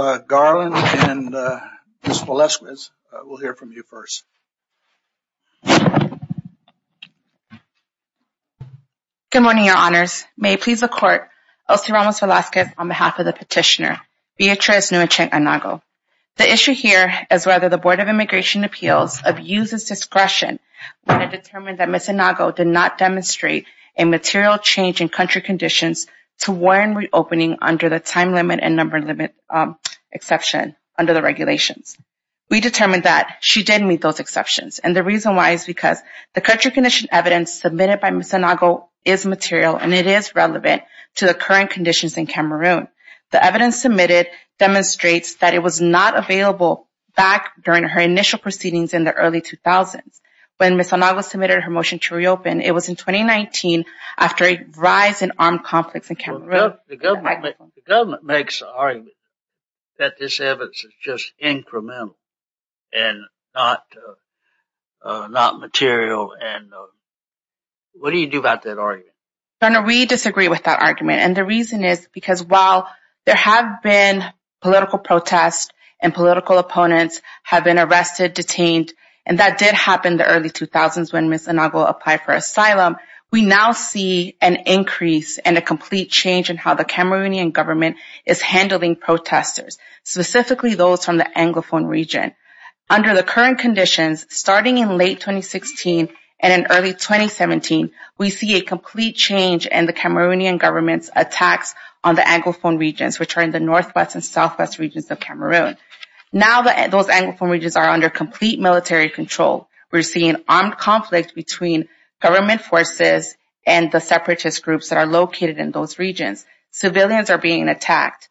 and Ms. Velazquez will hear from you first. Good morning, your honors. May it please the court, Elsie Ramos Velazquez on behalf of the petitioner, Beatriz Nguyen-Cheng Anagho. The issue here is whether the Board of Immigration Appeals abuses discretion when it determined that Ms. Anagho did not demonstrate a material change in country conditions to warrant reopening under the time limit and number limit exception under the regulations. We determined that she did meet those exceptions and the reason why is because the country condition evidence submitted by Ms. Anagho is material and it is relevant to the current conditions in Cameroon. The evidence submitted demonstrates that it was not available back during her initial proceedings in the early 2000s. When Ms. Anagho submitted her motion to the government, the government makes the argument that this evidence is just incremental and not material and what do you do about that argument? Your honor, we disagree with that argument and the reason is because while there have been political protests and political opponents have been arrested, detained, and that did happen the early 2000s when Ms. Anagho applied for asylum, we now see an increase and a complete change in how the Cameroonian government is handling protesters, specifically those from the Anglophone region. Under the current conditions, starting in late 2016 and in early 2017, we see a complete change in the Cameroonian government's attacks on the Anglophone regions which are in the northwest and southwest regions of Cameroon. Now that those Anglophone regions are under complete military control, we're seeing armed between government forces and the separatist groups that are located in those regions. Civilians are being attacked.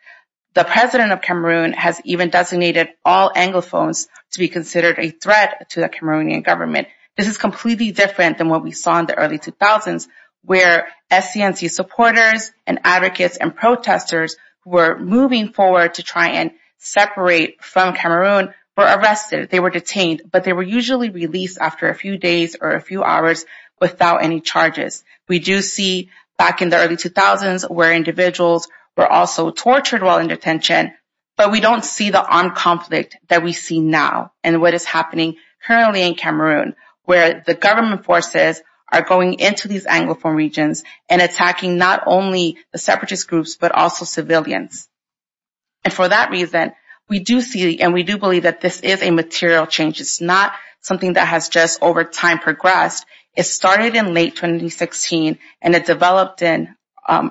The president of Cameroon has even designated all Anglophones to be considered a threat to the Cameroonian government. This is completely different than what we saw in the early 2000s where SCNC supporters and advocates and protesters who were moving forward to try and separate from Cameroon were arrested. They were detained but they were usually released after a few days or a few hours without any charges. We do see back in the early 2000s where individuals were also tortured while in detention, but we don't see the armed conflict that we see now and what is happening currently in Cameroon where the government forces are going into these Anglophone regions and attacking not only the separatist groups but also civilians. And for that reason, we do see and we do believe that this is a something that has just over time progressed. It started in late 2016 and it developed in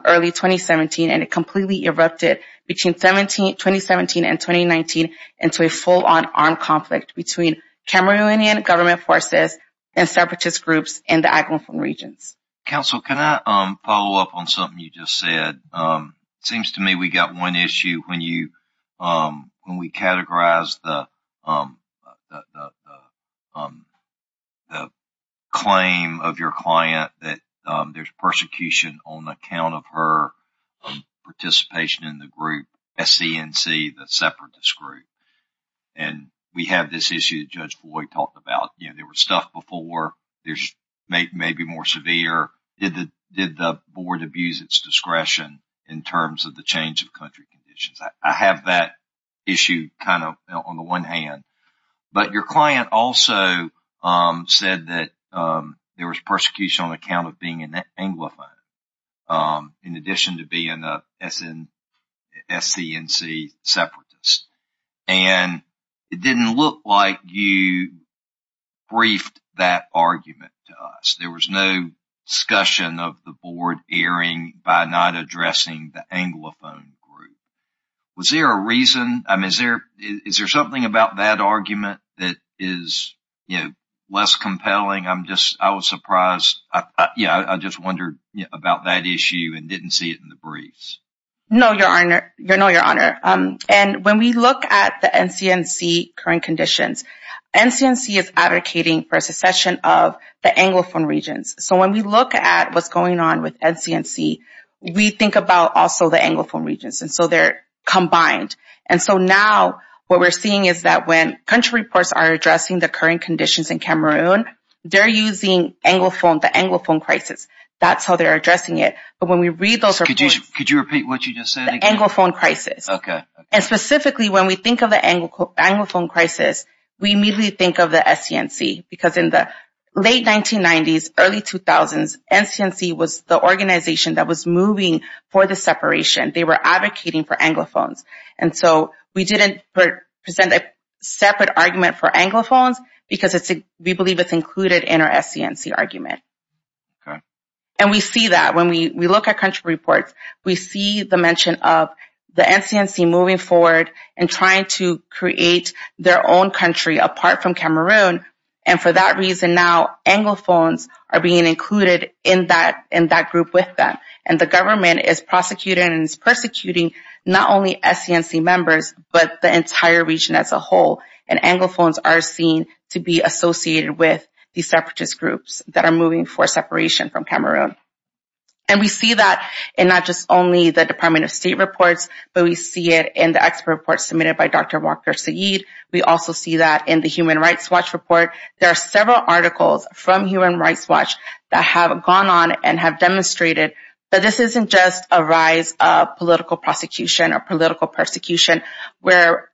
early 2017 and it completely erupted between 2017 and 2019 into a full-on armed conflict between Cameroonian government forces and separatist groups in the Anglophone regions. Council, can I follow up on something you just said? It seems to me we got one issue when we categorized the claim of your client that there's persecution on account of her participation in the group SCNC, the separatist group, and we have this issue that Judge Boyd talked about. You know, there was stuff before, there's maybe more severe. Did the board abuse its discretion in terms of the change of country conditions? I have that issue kind of on the one hand, but your client also said that there was persecution on account of being an Anglophone in addition to being an SCNC separatist and it didn't look like you briefed that argument to us. There was no discussion of the board erring by not addressing the Anglophone group. Was there a reason? Is there something about that argument that is less compelling? I was surprised. I just wondered about that issue and didn't see it in the briefs. No, your honor. And when we look at the NCNC current conditions, NCNC is advocating for a secession of the Anglophone regions. So when we look at what's going on with NCNC, we think about also the Anglophone regions. And so they're combined. And so now what we're seeing is that when country reports are addressing the current conditions in Cameroon, they're using Anglophone, the Anglophone crisis. That's how they're addressing it. But when we read those reports... Could you repeat what you just said? The Anglophone crisis. Okay. And specifically when we think of the Anglophone crisis, we immediately think of the NCNC. Because in the late 1990s, early 2000s, NCNC was the organization that was moving for the separation. They were advocating for Anglophones. And so we didn't present a separate argument for Anglophones because we believe it's included in our NCNC argument. And we see that when we look at country reports. We see the mention of the NCNC moving forward and trying to create their own country apart from Cameroon. And for that reason now, Anglophones are being included in that group with them. And the government is prosecuting and is persecuting not only NCNC members, but the entire region as a whole. And Anglophones are seen to be associated with these separatist groups that are moving for separation from Cameroon. And we see that in not just only the Department of State reports, but we see it in the expert reports submitted by Dr. Walker-Saeed. We also see that in the Human Rights Watch report. There are several articles from Human Rights Watch that have gone on and have demonstrated that this isn't just a rise of political prosecution or political persecution. Where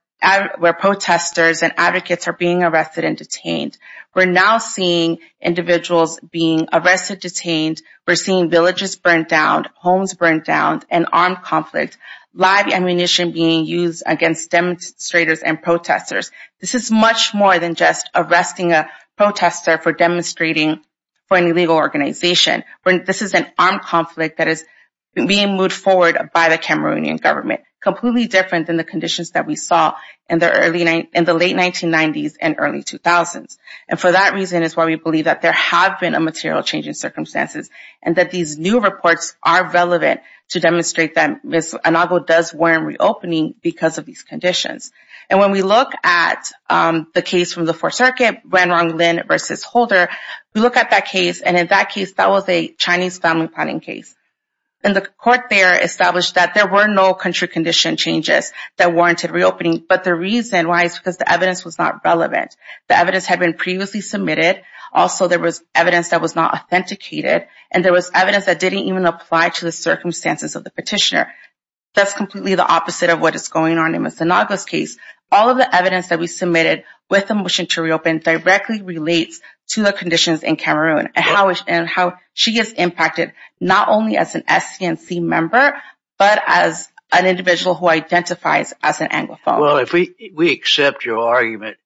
protesters and advocates are being arrested and detained. We're now seeing individuals being arrested, detained. We're seeing villages burned down, homes burned down, and armed conflict. Live ammunition being used against demonstrators and protesters. This is much more than just arresting a protester for demonstrating for an illegal organization. This is an armed conflict that is being moved forward by the Cameroonian government. Completely different than the conditions that we saw in the late 1990s and early 2000s. And for that reason is why we believe that there have been a material change in circumstances and that these new reports are relevant to demonstrate that this inaugural does warrant reopening because of these conditions. And when we look at the case from the Fourth Circuit, Wenrong Lin versus Holder, we look at that case and in that case that was a Chinese family planning case. And the court there established that there were no country condition changes that warranted reopening. But the reason why is because the evidence was not relevant. The evidence had been previously submitted. Also, there was evidence that was not authenticated. And there was evidence that didn't even apply to the circumstances of the petitioner. That's completely the opposite of what is going on in Ms. Sinalgo's case. All of the evidence that we submitted with the motion to reopen directly relates to the conditions in Cameroon and how she is impacted not only as an SCNC member, but as an individual who identifies as an Anglophone. Well, if we accept your argument,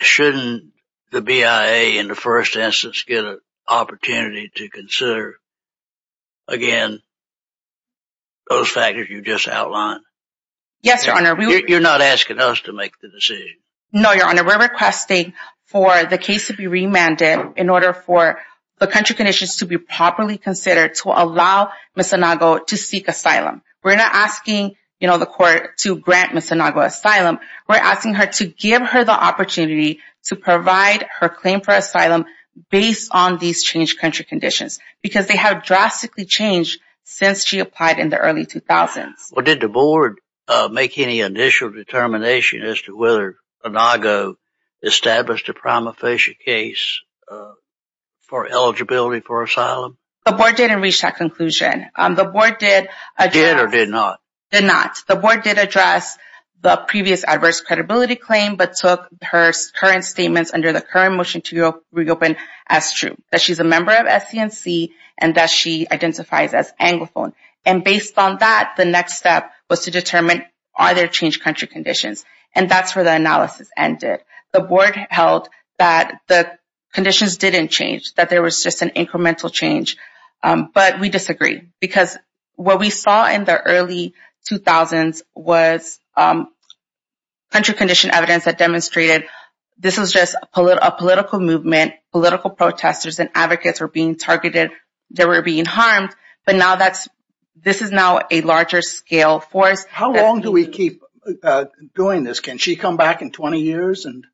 shouldn't the BIA in the first instance get an opportunity to reconsider, again, those factors you just outlined? Yes, Your Honor. You're not asking us to make the decision? No, Your Honor. We're requesting for the case to be remanded in order for the country conditions to be properly considered to allow Ms. Sinalgo to seek asylum. We're not asking the court to grant Ms. Sinalgo asylum. We're asking her to give her the opportunity to provide her claim for asylum based on these changed country conditions, because they have drastically changed since she applied in the early 2000s. Well, did the board make any initial determination as to whether Sinalgo established a prima facie case for eligibility for asylum? The board didn't reach that conclusion. The board did address... Did or did not? Did not. The board did address the previous adverse credibility claim, but took her current statements under the current motion to reopen as true, that she's a member of SCNC, and that she identifies as Anglophone. And based on that, the next step was to determine, are there changed country conditions? And that's where the analysis ended. The board held that the conditions didn't change, that there was just an incremental change. But we disagree, because what we saw in the early 2000s was country condition evidence that demonstrated this was just a political movement, political protesters and advocates were being targeted, they were being harmed. But now that's... This is now a larger scale force. How long do we keep doing this? Can she come back in 20 years and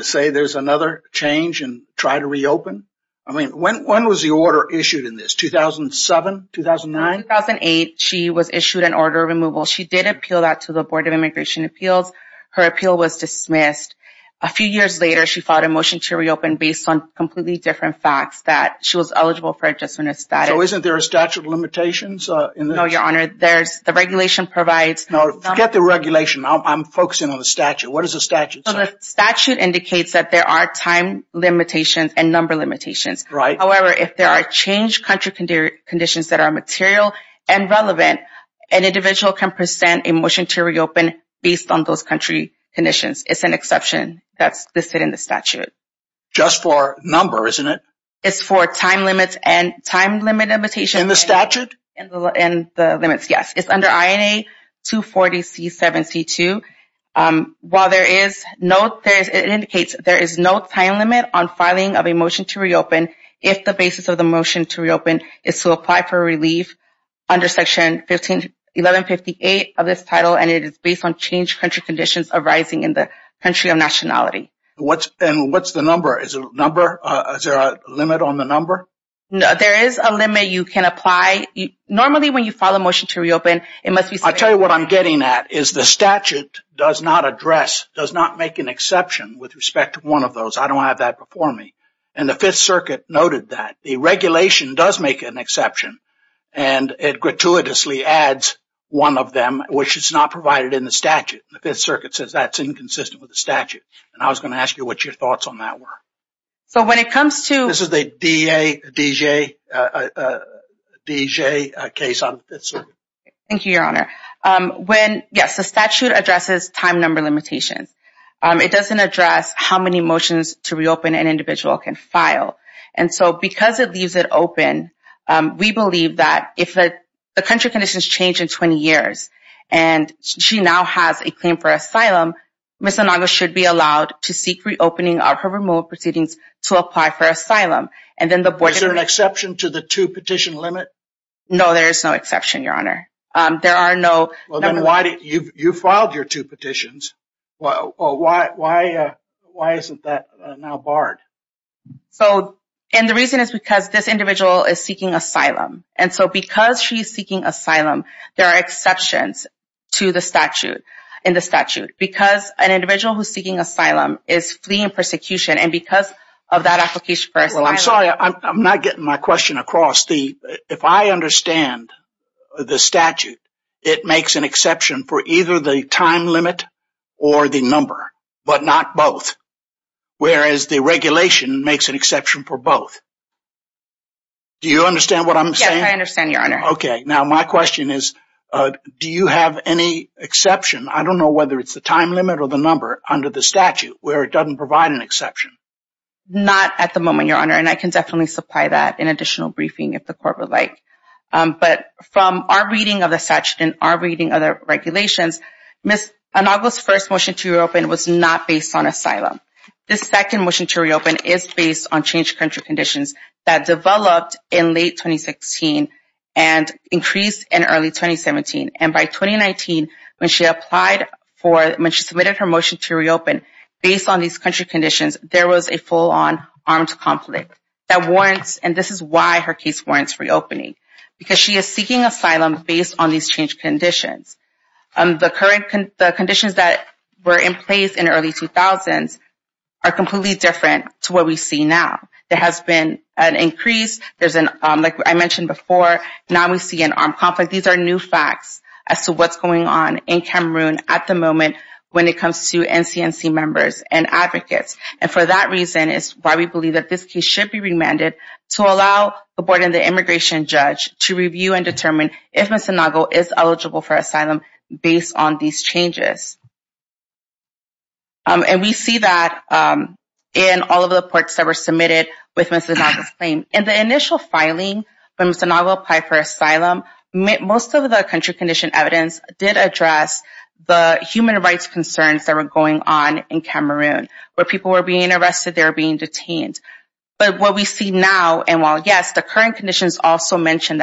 say there's another change and try to reopen? I mean, when was the order issued in this, 2007, 2009? In 2008, she was issued an order of removal. She did appeal that to the Board of Immigration Appeals. Her appeal was dismissed. A few years later, she filed a motion to reopen based on completely different facts, that she was eligible for adjustment of status. So isn't there a statute of limitations in this? No, Your Honor. There's... The regulation provides... No, forget the regulation. I'm focusing on the statute. What does the statute say? So the statute indicates that there are time limitations and number limitations. Right. However, if there are changed country conditions that are material and relevant, an individual can present a motion to reopen based on those country conditions. It's an exception that's listed in the statute. Just for number, isn't it? It's for time limits and time limit limitations. In the statute? In the limits, yes. It's under INA 240C7C2. While there is no... It indicates there is no time limit on filing of a motion to reopen if the basis of the motion to reopen is to apply for relief under Section 1158 of this title, and it is based on changed country conditions arising in the country of nationality. What's... And what's the number? Is there a limit on the number? There is a limit you can apply. Normally, when you file a motion to reopen, it must be... I'll tell you what I'm getting at, is the statute does not address, does not make an exception. I don't have that before me, and the Fifth Circuit noted that. The regulation does make an exception, and it gratuitously adds one of them, which is not provided in the statute. The Fifth Circuit says that's inconsistent with the statute, and I was going to ask you what your thoughts on that were. So when it comes to... This is the D.J. case on the Fifth Circuit. Thank you, Your Honor. When... Yes, the statute addresses time number limitations. It doesn't address how many motions to reopen an individual can file, and so because it leaves it open, we believe that if the country conditions change in 20 years, and she now has a claim for asylum, Ms. Anago should be allowed to seek reopening of her removal proceedings to apply for asylum, and then the board... Is there an exception to the two-petition limit? No, there is no exception, Your Honor. There are no... You filed your two petitions. Why isn't that now barred? And the reason is because this individual is seeking asylum, and so because she's seeking asylum, there are exceptions to the statute, in the statute, because an individual who's seeking asylum is fleeing persecution, and because of that application for asylum... Well, I'm sorry. I'm not getting my question across. If I understand the statute, it makes an exception for either the time limit or the number, but not both, whereas the regulation makes an exception for both. Do you understand what I'm saying? Yes, I understand, Your Honor. Okay. Now, my question is, do you have any exception? I don't know whether it's the time limit or the number under the statute, where it doesn't provide an exception. Not at the moment, Your Honor, and I can definitely supply that in additional regulations. Ms. Anago's first motion to reopen was not based on asylum. This second motion to reopen is based on changed country conditions that developed in late 2016 and increased in early 2017, and by 2019, when she applied for... When she submitted her motion to reopen, based on these country conditions, there was a full-on armed conflict that warrants... And this is why her case warrants reopening, because she is seeking asylum based on these conditions. The current... The conditions that were in place in early 2000s are completely different to what we see now. There has been an increase. There's an... Like I mentioned before, now we see an armed conflict. These are new facts as to what's going on in Cameroon at the moment when it comes to NCNC members and advocates. And for that reason, it's why we believe that this case should be remanded to allow a board and the immigration judge to review and determine if Ms. Anago is eligible for asylum based on these changes. And we see that in all of the reports that were submitted with Ms. Anago's claim. In the initial filing, when Ms. Anago applied for asylum, most of the country condition evidence did address the human rights concerns that were going on in Cameroon, where people were being arrested, they were being detained. But what we see now, and while, yes, the current conditions also mention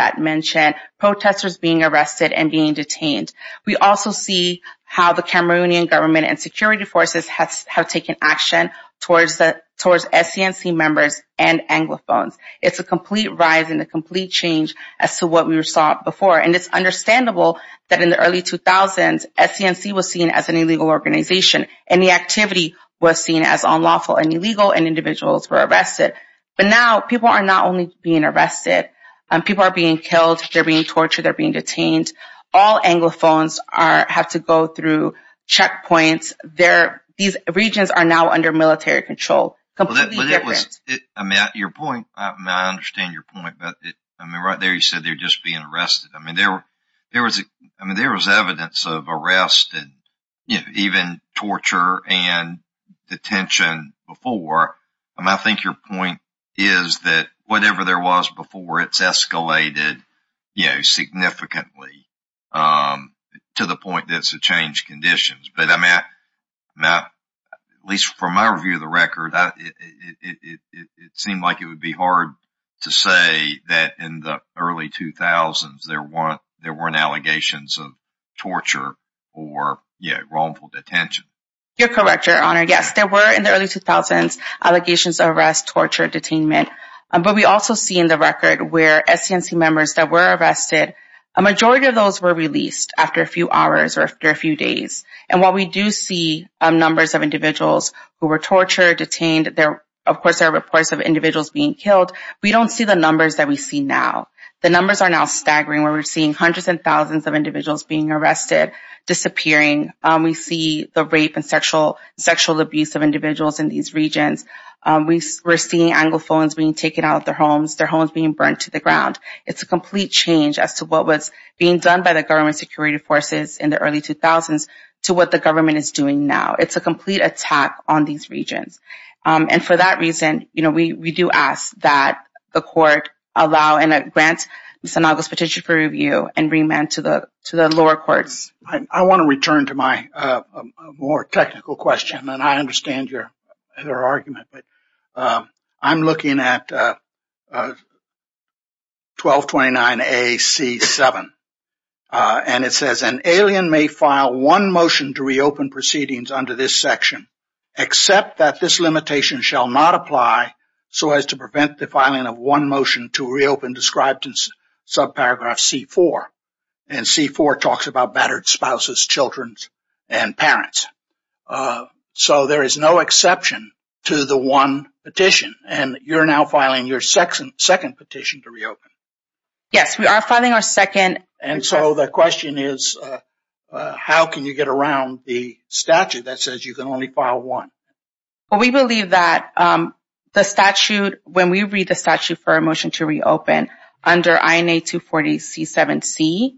protesters being arrested and being detained, we also see how the Cameroonian government and security forces have taken action towards SCNC members and Anglophones. It's a complete rise and a complete change as to what we saw before. And it's understandable that in the early 2000s, SCNC was seen as an illegal organization and the activity was seen as unlawful and illegal and individuals were arrested. But now people are not only being killed, they're being tortured, they're being detained. All Anglophones have to go through checkpoints. These regions are now under military control. Completely different. Your point, I understand your point, but right there you said they're just being arrested. There was evidence of arrest and even torture and detention before. I think your point is that whatever there was before, it's escalated significantly to the point that it's changed conditions. But at least from my view of the record, it seemed like it would be hard to say that in the early 2000s, there weren't allegations of torture or wrongful detention. You're correct, Your Honor. Yes, there were in the early 2000s, arrests, torture, detainment. But we also see in the record where SCNC members that were arrested, a majority of those were released after a few hours or after a few days. And while we do see numbers of individuals who were tortured, detained, of course there are reports of individuals being killed, we don't see the numbers that we see now. The numbers are now staggering where we're seeing hundreds and thousands of individuals being arrested, disappearing. We see the rape and sexual abuse of individuals in these regions. We're seeing anglophones being taken out of their homes, their homes being burned to the ground. It's a complete change as to what was being done by the government security forces in the early 2000s to what the government is doing now. It's a complete attack on these regions. And for that reason, we do ask that the court allow and grant Ms. Anago's petition for review and remand to the lower courts. I want to return to my more technical question, and I understand your argument, but I'm looking at 1229A-C-7. And it says, an alien may file one motion to reopen proceedings under this section, except that this limitation shall not apply so as to prevent the filing of one motion to reopen described in subparagraph C-4. And C-4 talks about battered spouses, children, and parents. So there is no exception to the one petition. And you're now filing your second petition to reopen. Yes, we are filing our second. And so the question is, how can you get around the statute that says you can only file one? Well, we believe that the statute, when we read the statute for a motion to reopen under INA 240-C-7-C,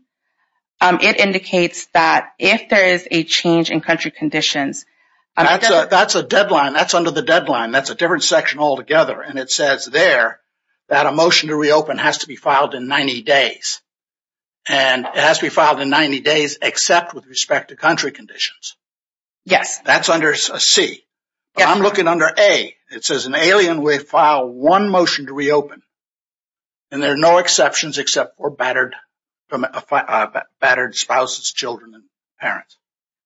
it indicates that if there is a change in country conditions... That's a deadline. That's under the deadline. That's a different section altogether. And it says there that a motion to reopen has to be filed in 90 days. And it has to be filed in 90 days, except with respect to country conditions. Yes. That's under C. But I'm looking under A. It says, an alien will file one motion to reopen. And there are no exceptions except for battered spouses, children, and parents.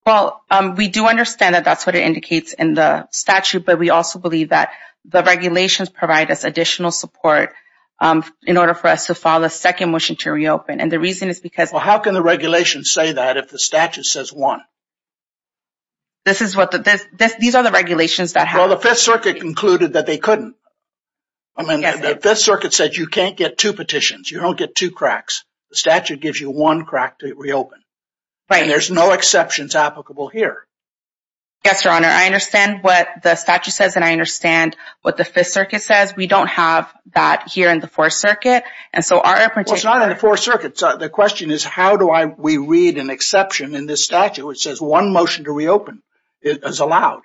Well, we do understand that that's what it indicates in the statute. But we also believe that the regulations provide us additional support in order for us to file a second motion to reopen. And the reason is because... Well, how can the regulation say that if the statute says one? These are the regulations that have... The 5th Circuit concluded that they couldn't. I mean, the 5th Circuit said you can't get two petitions. You don't get two cracks. The statute gives you one crack to reopen. And there's no exceptions applicable here. Yes, Your Honor. I understand what the statute says, and I understand what the 5th Circuit says. We don't have that here in the 4th Circuit. And so our... Well, it's not in the 4th Circuit. The question is, how do we read an exception in this statute which says one motion to reopen is allowed?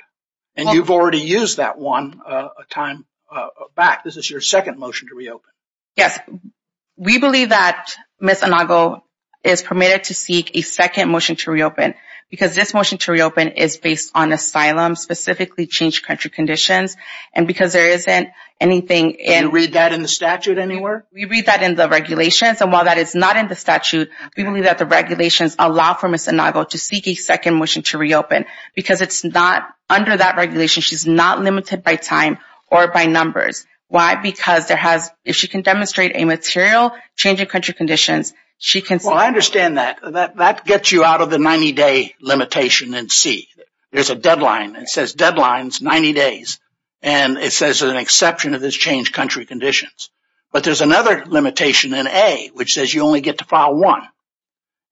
And you've already used that one a time back. This is your second motion to reopen. Yes. We believe that Ms. Inago is permitted to seek a second motion to reopen because this motion to reopen is based on asylum, specifically changed country conditions. And because there isn't anything in... Do you read that in the statute anywhere? We read that in the regulations. And while that is not in the statute, we believe that the regulations allow for Ms. Inago to seek a second motion to reopen because it's not under that regulation. She's not limited by time or by numbers. Why? Because there has... If she can demonstrate a material change in country conditions, she can... Well, I understand that. That gets you out of the 90-day limitation in C. There's a deadline. It says deadlines, 90 days. And it says an exception of this changed country conditions. But there's another limitation in A, which says you only get to file one.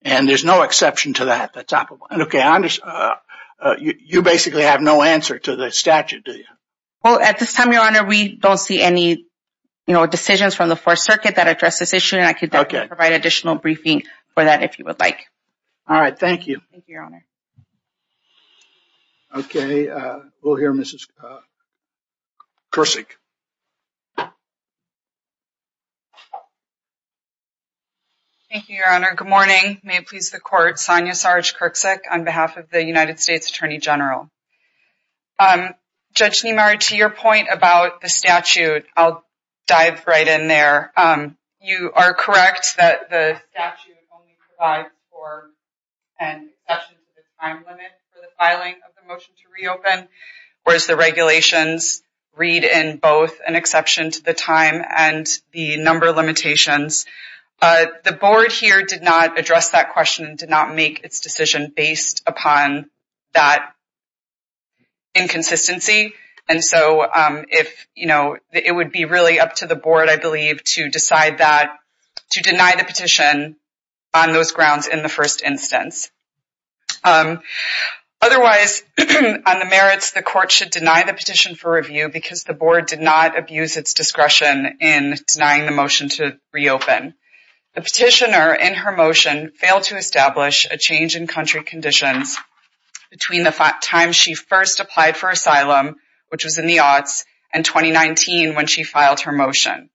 And there's no exception to that, the top of one. Okay. You basically have no answer to the statute, do you? Well, at this time, Your Honor, we don't see any decisions from the Fourth Circuit that address this issue. And I could provide additional briefing for that if you would like. All right. Thank you. Thank you, Your Honor. Okay. We'll hear Ms. Krusek. Thank you, Your Honor. Good morning. May it please the court, Sonia Sarge-Krusek, on behalf of the United States Attorney General. Judge Niemeyer, to your point about the statute, I'll dive right in there. You are correct that the statute only provides for an exception to the time limit for the filing of the motion to reopen, whereas the regulations read in both an exception to the time and the number of limitations. The board here did not address that question and did not make its decision based upon that inconsistency. And so it would be really up to the board, I believe, to decide that, to deny the petition on those grounds in the first instance. Otherwise, on the merits, the court should deny the petition for review because the board did not abuse its discretion in denying the motion to reopen. The petitioner in her motion failed to establish a change in country conditions between the time she first applied for asylum, which was in the aughts, and 2019 when she filed her motion.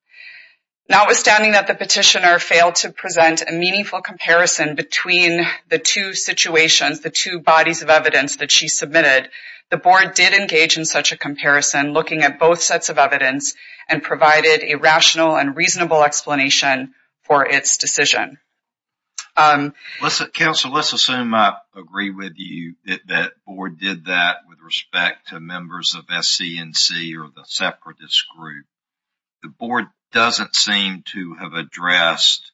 Notwithstanding that the petitioner to present a meaningful comparison between the two situations, the two bodies of evidence that she submitted, the board did engage in such a comparison looking at both sets of evidence and provided a rational and reasonable explanation for its decision. Counsel, let's assume I agree with you that the board did that with respect to members of SC&C or the separatist group. The board doesn't seem to have addressed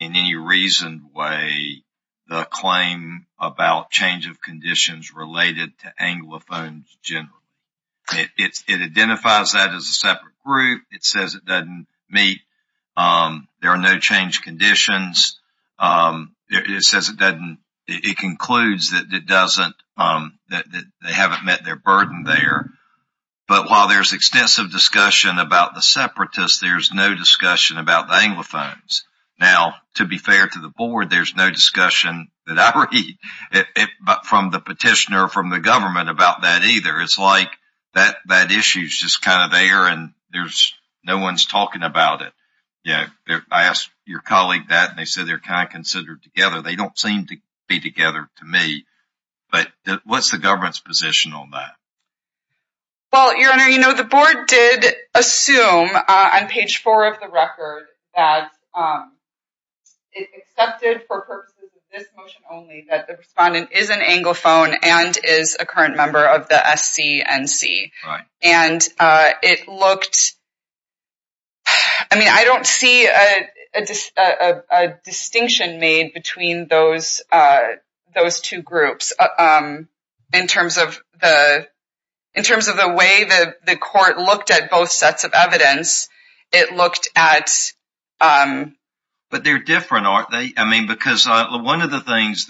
in any reasoned way the claim about change of conditions related to anglophones generally. It identifies that as a separate group. It says it doesn't meet, there are no change conditions. It concludes that it doesn't, that they haven't met their burden there, but while there's extensive discussion about the separatists, there's no discussion about the anglophones. Now, to be fair to the board, there's no discussion that I read from the petitioner from the government about that either. It's like that issue is just kind of there and there's no one's talking about it. I asked your colleague that and they said they're kind of considered together. They don't seem to be together to me, but what's the government's position on that? Well, your honor, you know the board did assume on page four of the record that it's accepted for purposes of this motion only that the respondent is an anglophone and is a current those two groups. In terms of the way that the court looked at both sets of evidence, it looked at... But they're different, aren't they? I mean, because one of the things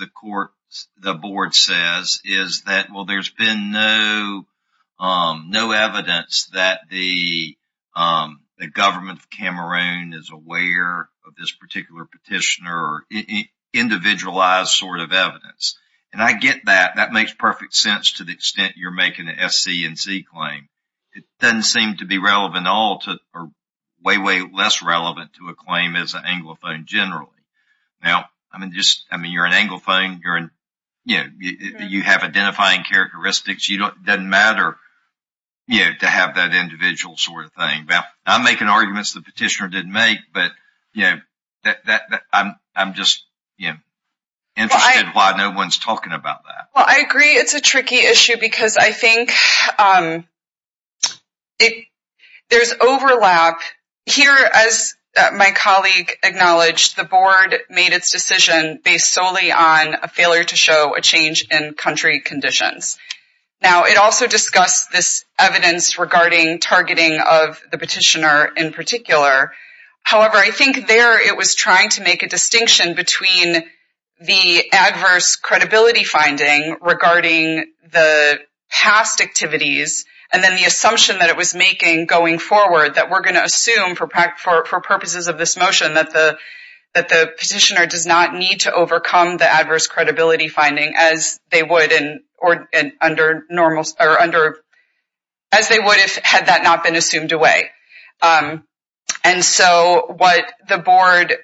the board says is that well there's been no evidence that the government of Cameroon is aware of this particular petitioner individualized sort of evidence. And I get that. That makes perfect sense to the extent you're making an SC&C claim. It doesn't seem to be relevant at all to or way, way less relevant to a claim as an anglophone generally. Now, I mean, you're an anglophone. You have identifying characteristics. It doesn't matter to have that individual sort of thing. Now, I'm making arguments the petitioner didn't make, but I'm just interested why no one's talking about that. Well, I agree it's a tricky issue because I think there's overlap. Here, as my colleague acknowledged, the board made its decision based solely on a failure to show a change in country conditions. Now, it also discussed this evidence regarding targeting of the petitioner in particular. However, I think there it was trying to make a distinction between the adverse credibility finding regarding the past activities and then the assumption that it was making going forward that we're going to assume for purposes of this motion that the petitioner does not need to overcome the adverse credibility finding as they would if had that not been assumed away. And so what the board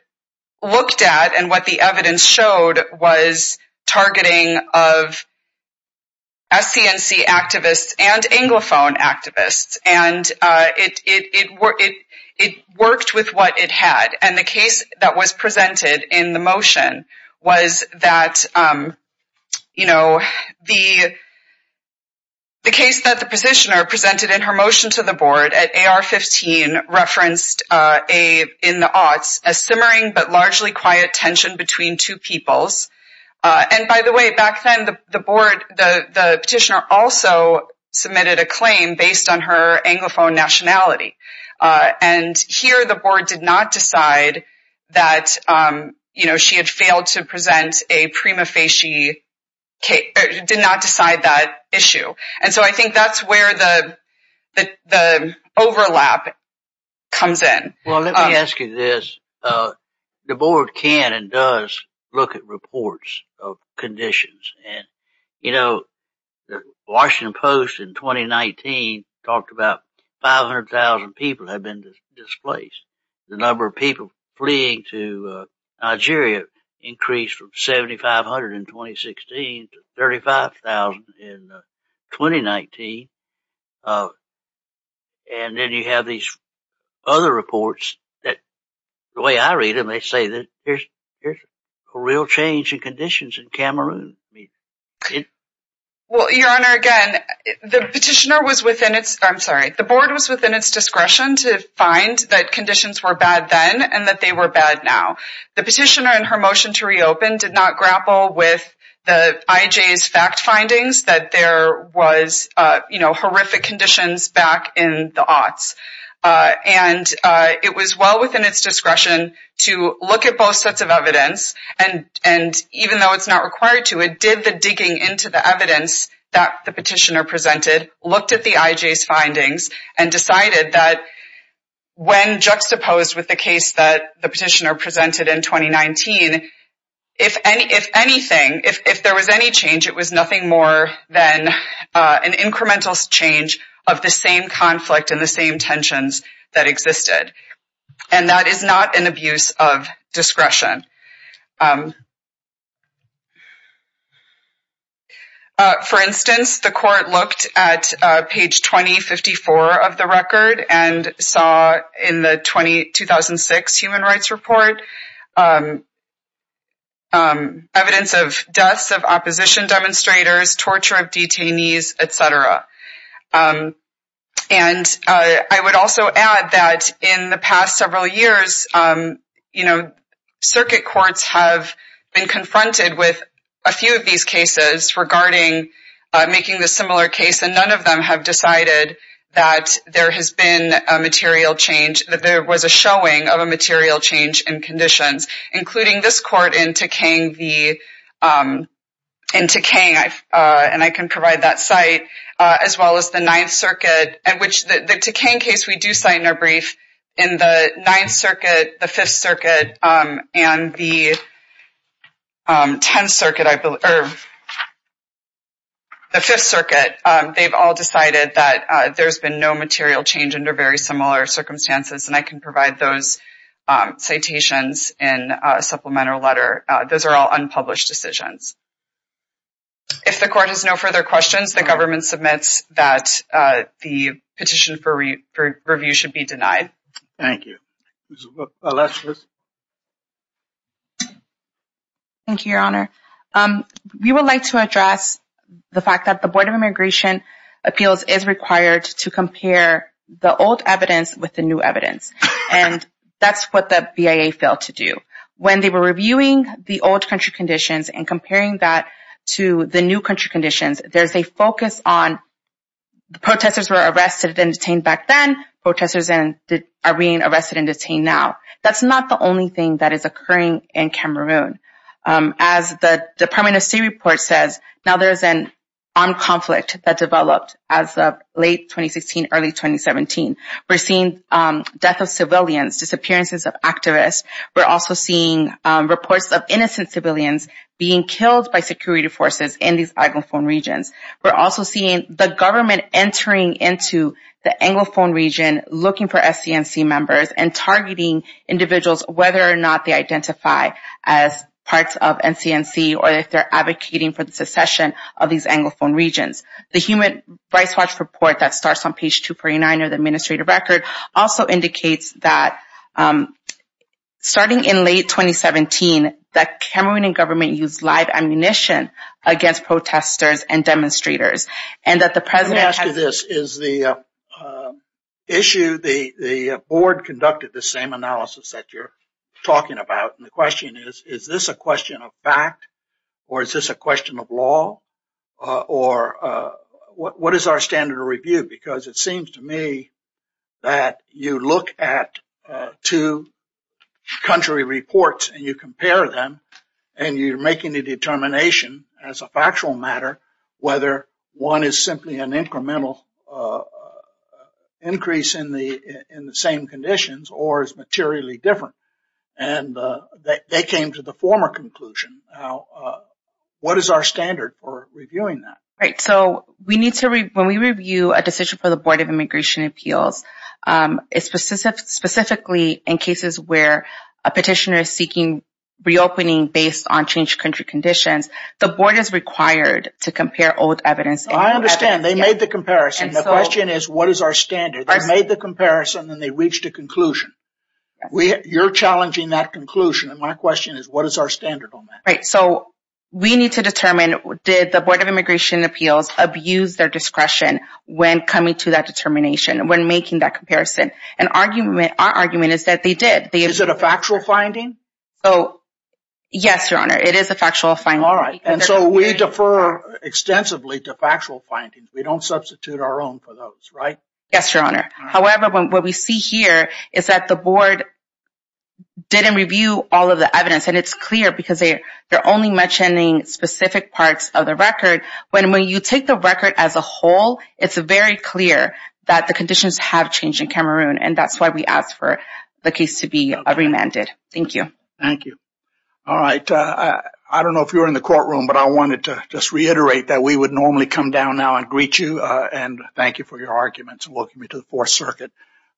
looked at and what the evidence showed was targeting of SC&C activists and anglophone activists. And it worked with what it had. And the case that was presented in the motion was that, you know, the case that the petitioner presented in her motion to the board at AR-15 referenced in the aughts a simmering but largely quiet tension between two peoples. And by the way, back then the petitioner also submitted a claim based on anglophone nationality. And here the board did not decide that, you know, she had failed to present a prima facie case, did not decide that issue. And so I think that's where the overlap comes in. Well, let me ask you this. The board can and does look at reports of conditions. And, you know, Washington Post in 2019 talked about 500,000 people have been displaced. The number of people fleeing to Nigeria increased from 7,500 in 2016 to 35,000 in 2019. And then you have these other reports that the way I read them, they say that there's a real change in conditions in Cameroon. Well, Your Honor, again, the petitioner was within its, I'm sorry, the board was within its discretion to find that conditions were bad then and that they were bad now. The petitioner in her motion to reopen did not grapple with the IJ's fact findings that there was, you know, horrific conditions back in the aughts. And it was well within its discretion to look at both sets of evidence. And even though it's not required to, it did the digging into the evidence that the petitioner presented, looked at the IJ's findings and decided that when juxtaposed with the case that the petitioner presented in 2019, if anything, if there was any change, it was nothing more than an incremental change of the same conflict and the same tensions that existed. And that is not an abuse of discretion. For instance, the court looked at page 2054 of the record and saw in the 2006 human rights report evidence of deaths of opposition demonstrators, torture of detainees, etc. And I would also add that in the past several years, you know, circuit courts have been confronted with a few of these cases regarding making the similar case and none of them have decided that there has been a material change, that there was a showing of a material change in conditions, including this court in Tekang, and I can provide that site, as well as the 9th circuit, in which the Tekang case we do cite in our brief, in the 9th circuit, the 5th circuit, and the 10th circuit, I believe, or the 5th circuit, they've all decided that there's been no material change under very similar circumstances, and I can provide those citations in a supplemental letter. Those are all unpublished decisions. If the court has no further questions, the government submits that the petition for review should be denied. Thank you. Thank you, Your Honor. We would like to address the fact that the Board of Immigration Appeals is required to compare the old evidence with the new evidence, and that's what the BIA failed to do. When they were reviewing the old country conditions and comparing that to the new country conditions, there's a focus on the protesters were arrested and detained back then, protesters are being arrested and detained now. That's not the only thing that is occurring in Cameroon. As the Department of State report says, now there's an armed conflict that developed as of late 2016, early 2017. We're seeing death of civilians, disappearances of activists. We're also seeing reports of innocent civilians being killed by security forces in these anglophone regions. We're also seeing the government entering into the anglophone region, looking for SCNC members and targeting individuals, whether or not they identify as parts of NCNC or if they're advocating for the secession of these anglophone regions. The Human Rights Watch report that starts on page 239 of the administrative record also indicates that starting in late 2017, that Cameroonian government used live ammunition against protesters and demonstrators, and that the board conducted the same analysis that you're talking about. And the question is, is this a question of fact, or is this a question of law, or what is our standard of review? Because it seems to me that you look at two country reports and you compare them, and you're making a determination as a factual matter, whether one is simply an incremental increase in the same conditions or is materially different. And they came to the former conclusion. Now, what is our standard for reviewing that? Right, so we need to, when we review a decision for the Board of Immigration Appeals, it's specifically in cases where a petitioner is seeking reopening based on country conditions. The board is required to compare old evidence. I understand, they made the comparison. The question is, what is our standard? They made the comparison and they reached a conclusion. You're challenging that conclusion, and my question is, what is our standard on that? Right, so we need to determine, did the Board of Immigration Appeals abuse their discretion when coming to that determination, when making that comparison? And our argument is that they did. Is it a factual finding? Yes, Your Honor, it is a factual finding. All right, and so we defer extensively to factual findings. We don't substitute our own for those, right? Yes, Your Honor. However, what we see here is that the board didn't review all of the evidence, and it's clear because they're only mentioning specific parts of the record. When you take the record as a whole, it's very clear that the conditions have changed in Cameroon, and that's why we ask for the case to be remanded. Thank you. Thank you. All right, I don't know if you're in the courtroom, but I wanted to just reiterate that we would normally come down now and greet you and thank you for your arguments and welcoming me to the Fourth Circuit.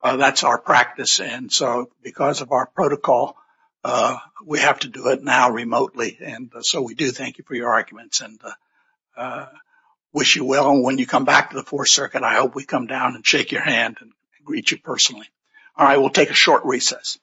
That's our practice, and so because of our protocol, we have to do it now remotely, and so we do thank you for your arguments and wish you well. And when you come back to the Fourth Circuit, I hope we come down and shake your hand and greet you personally. All right, we'll take a short recess.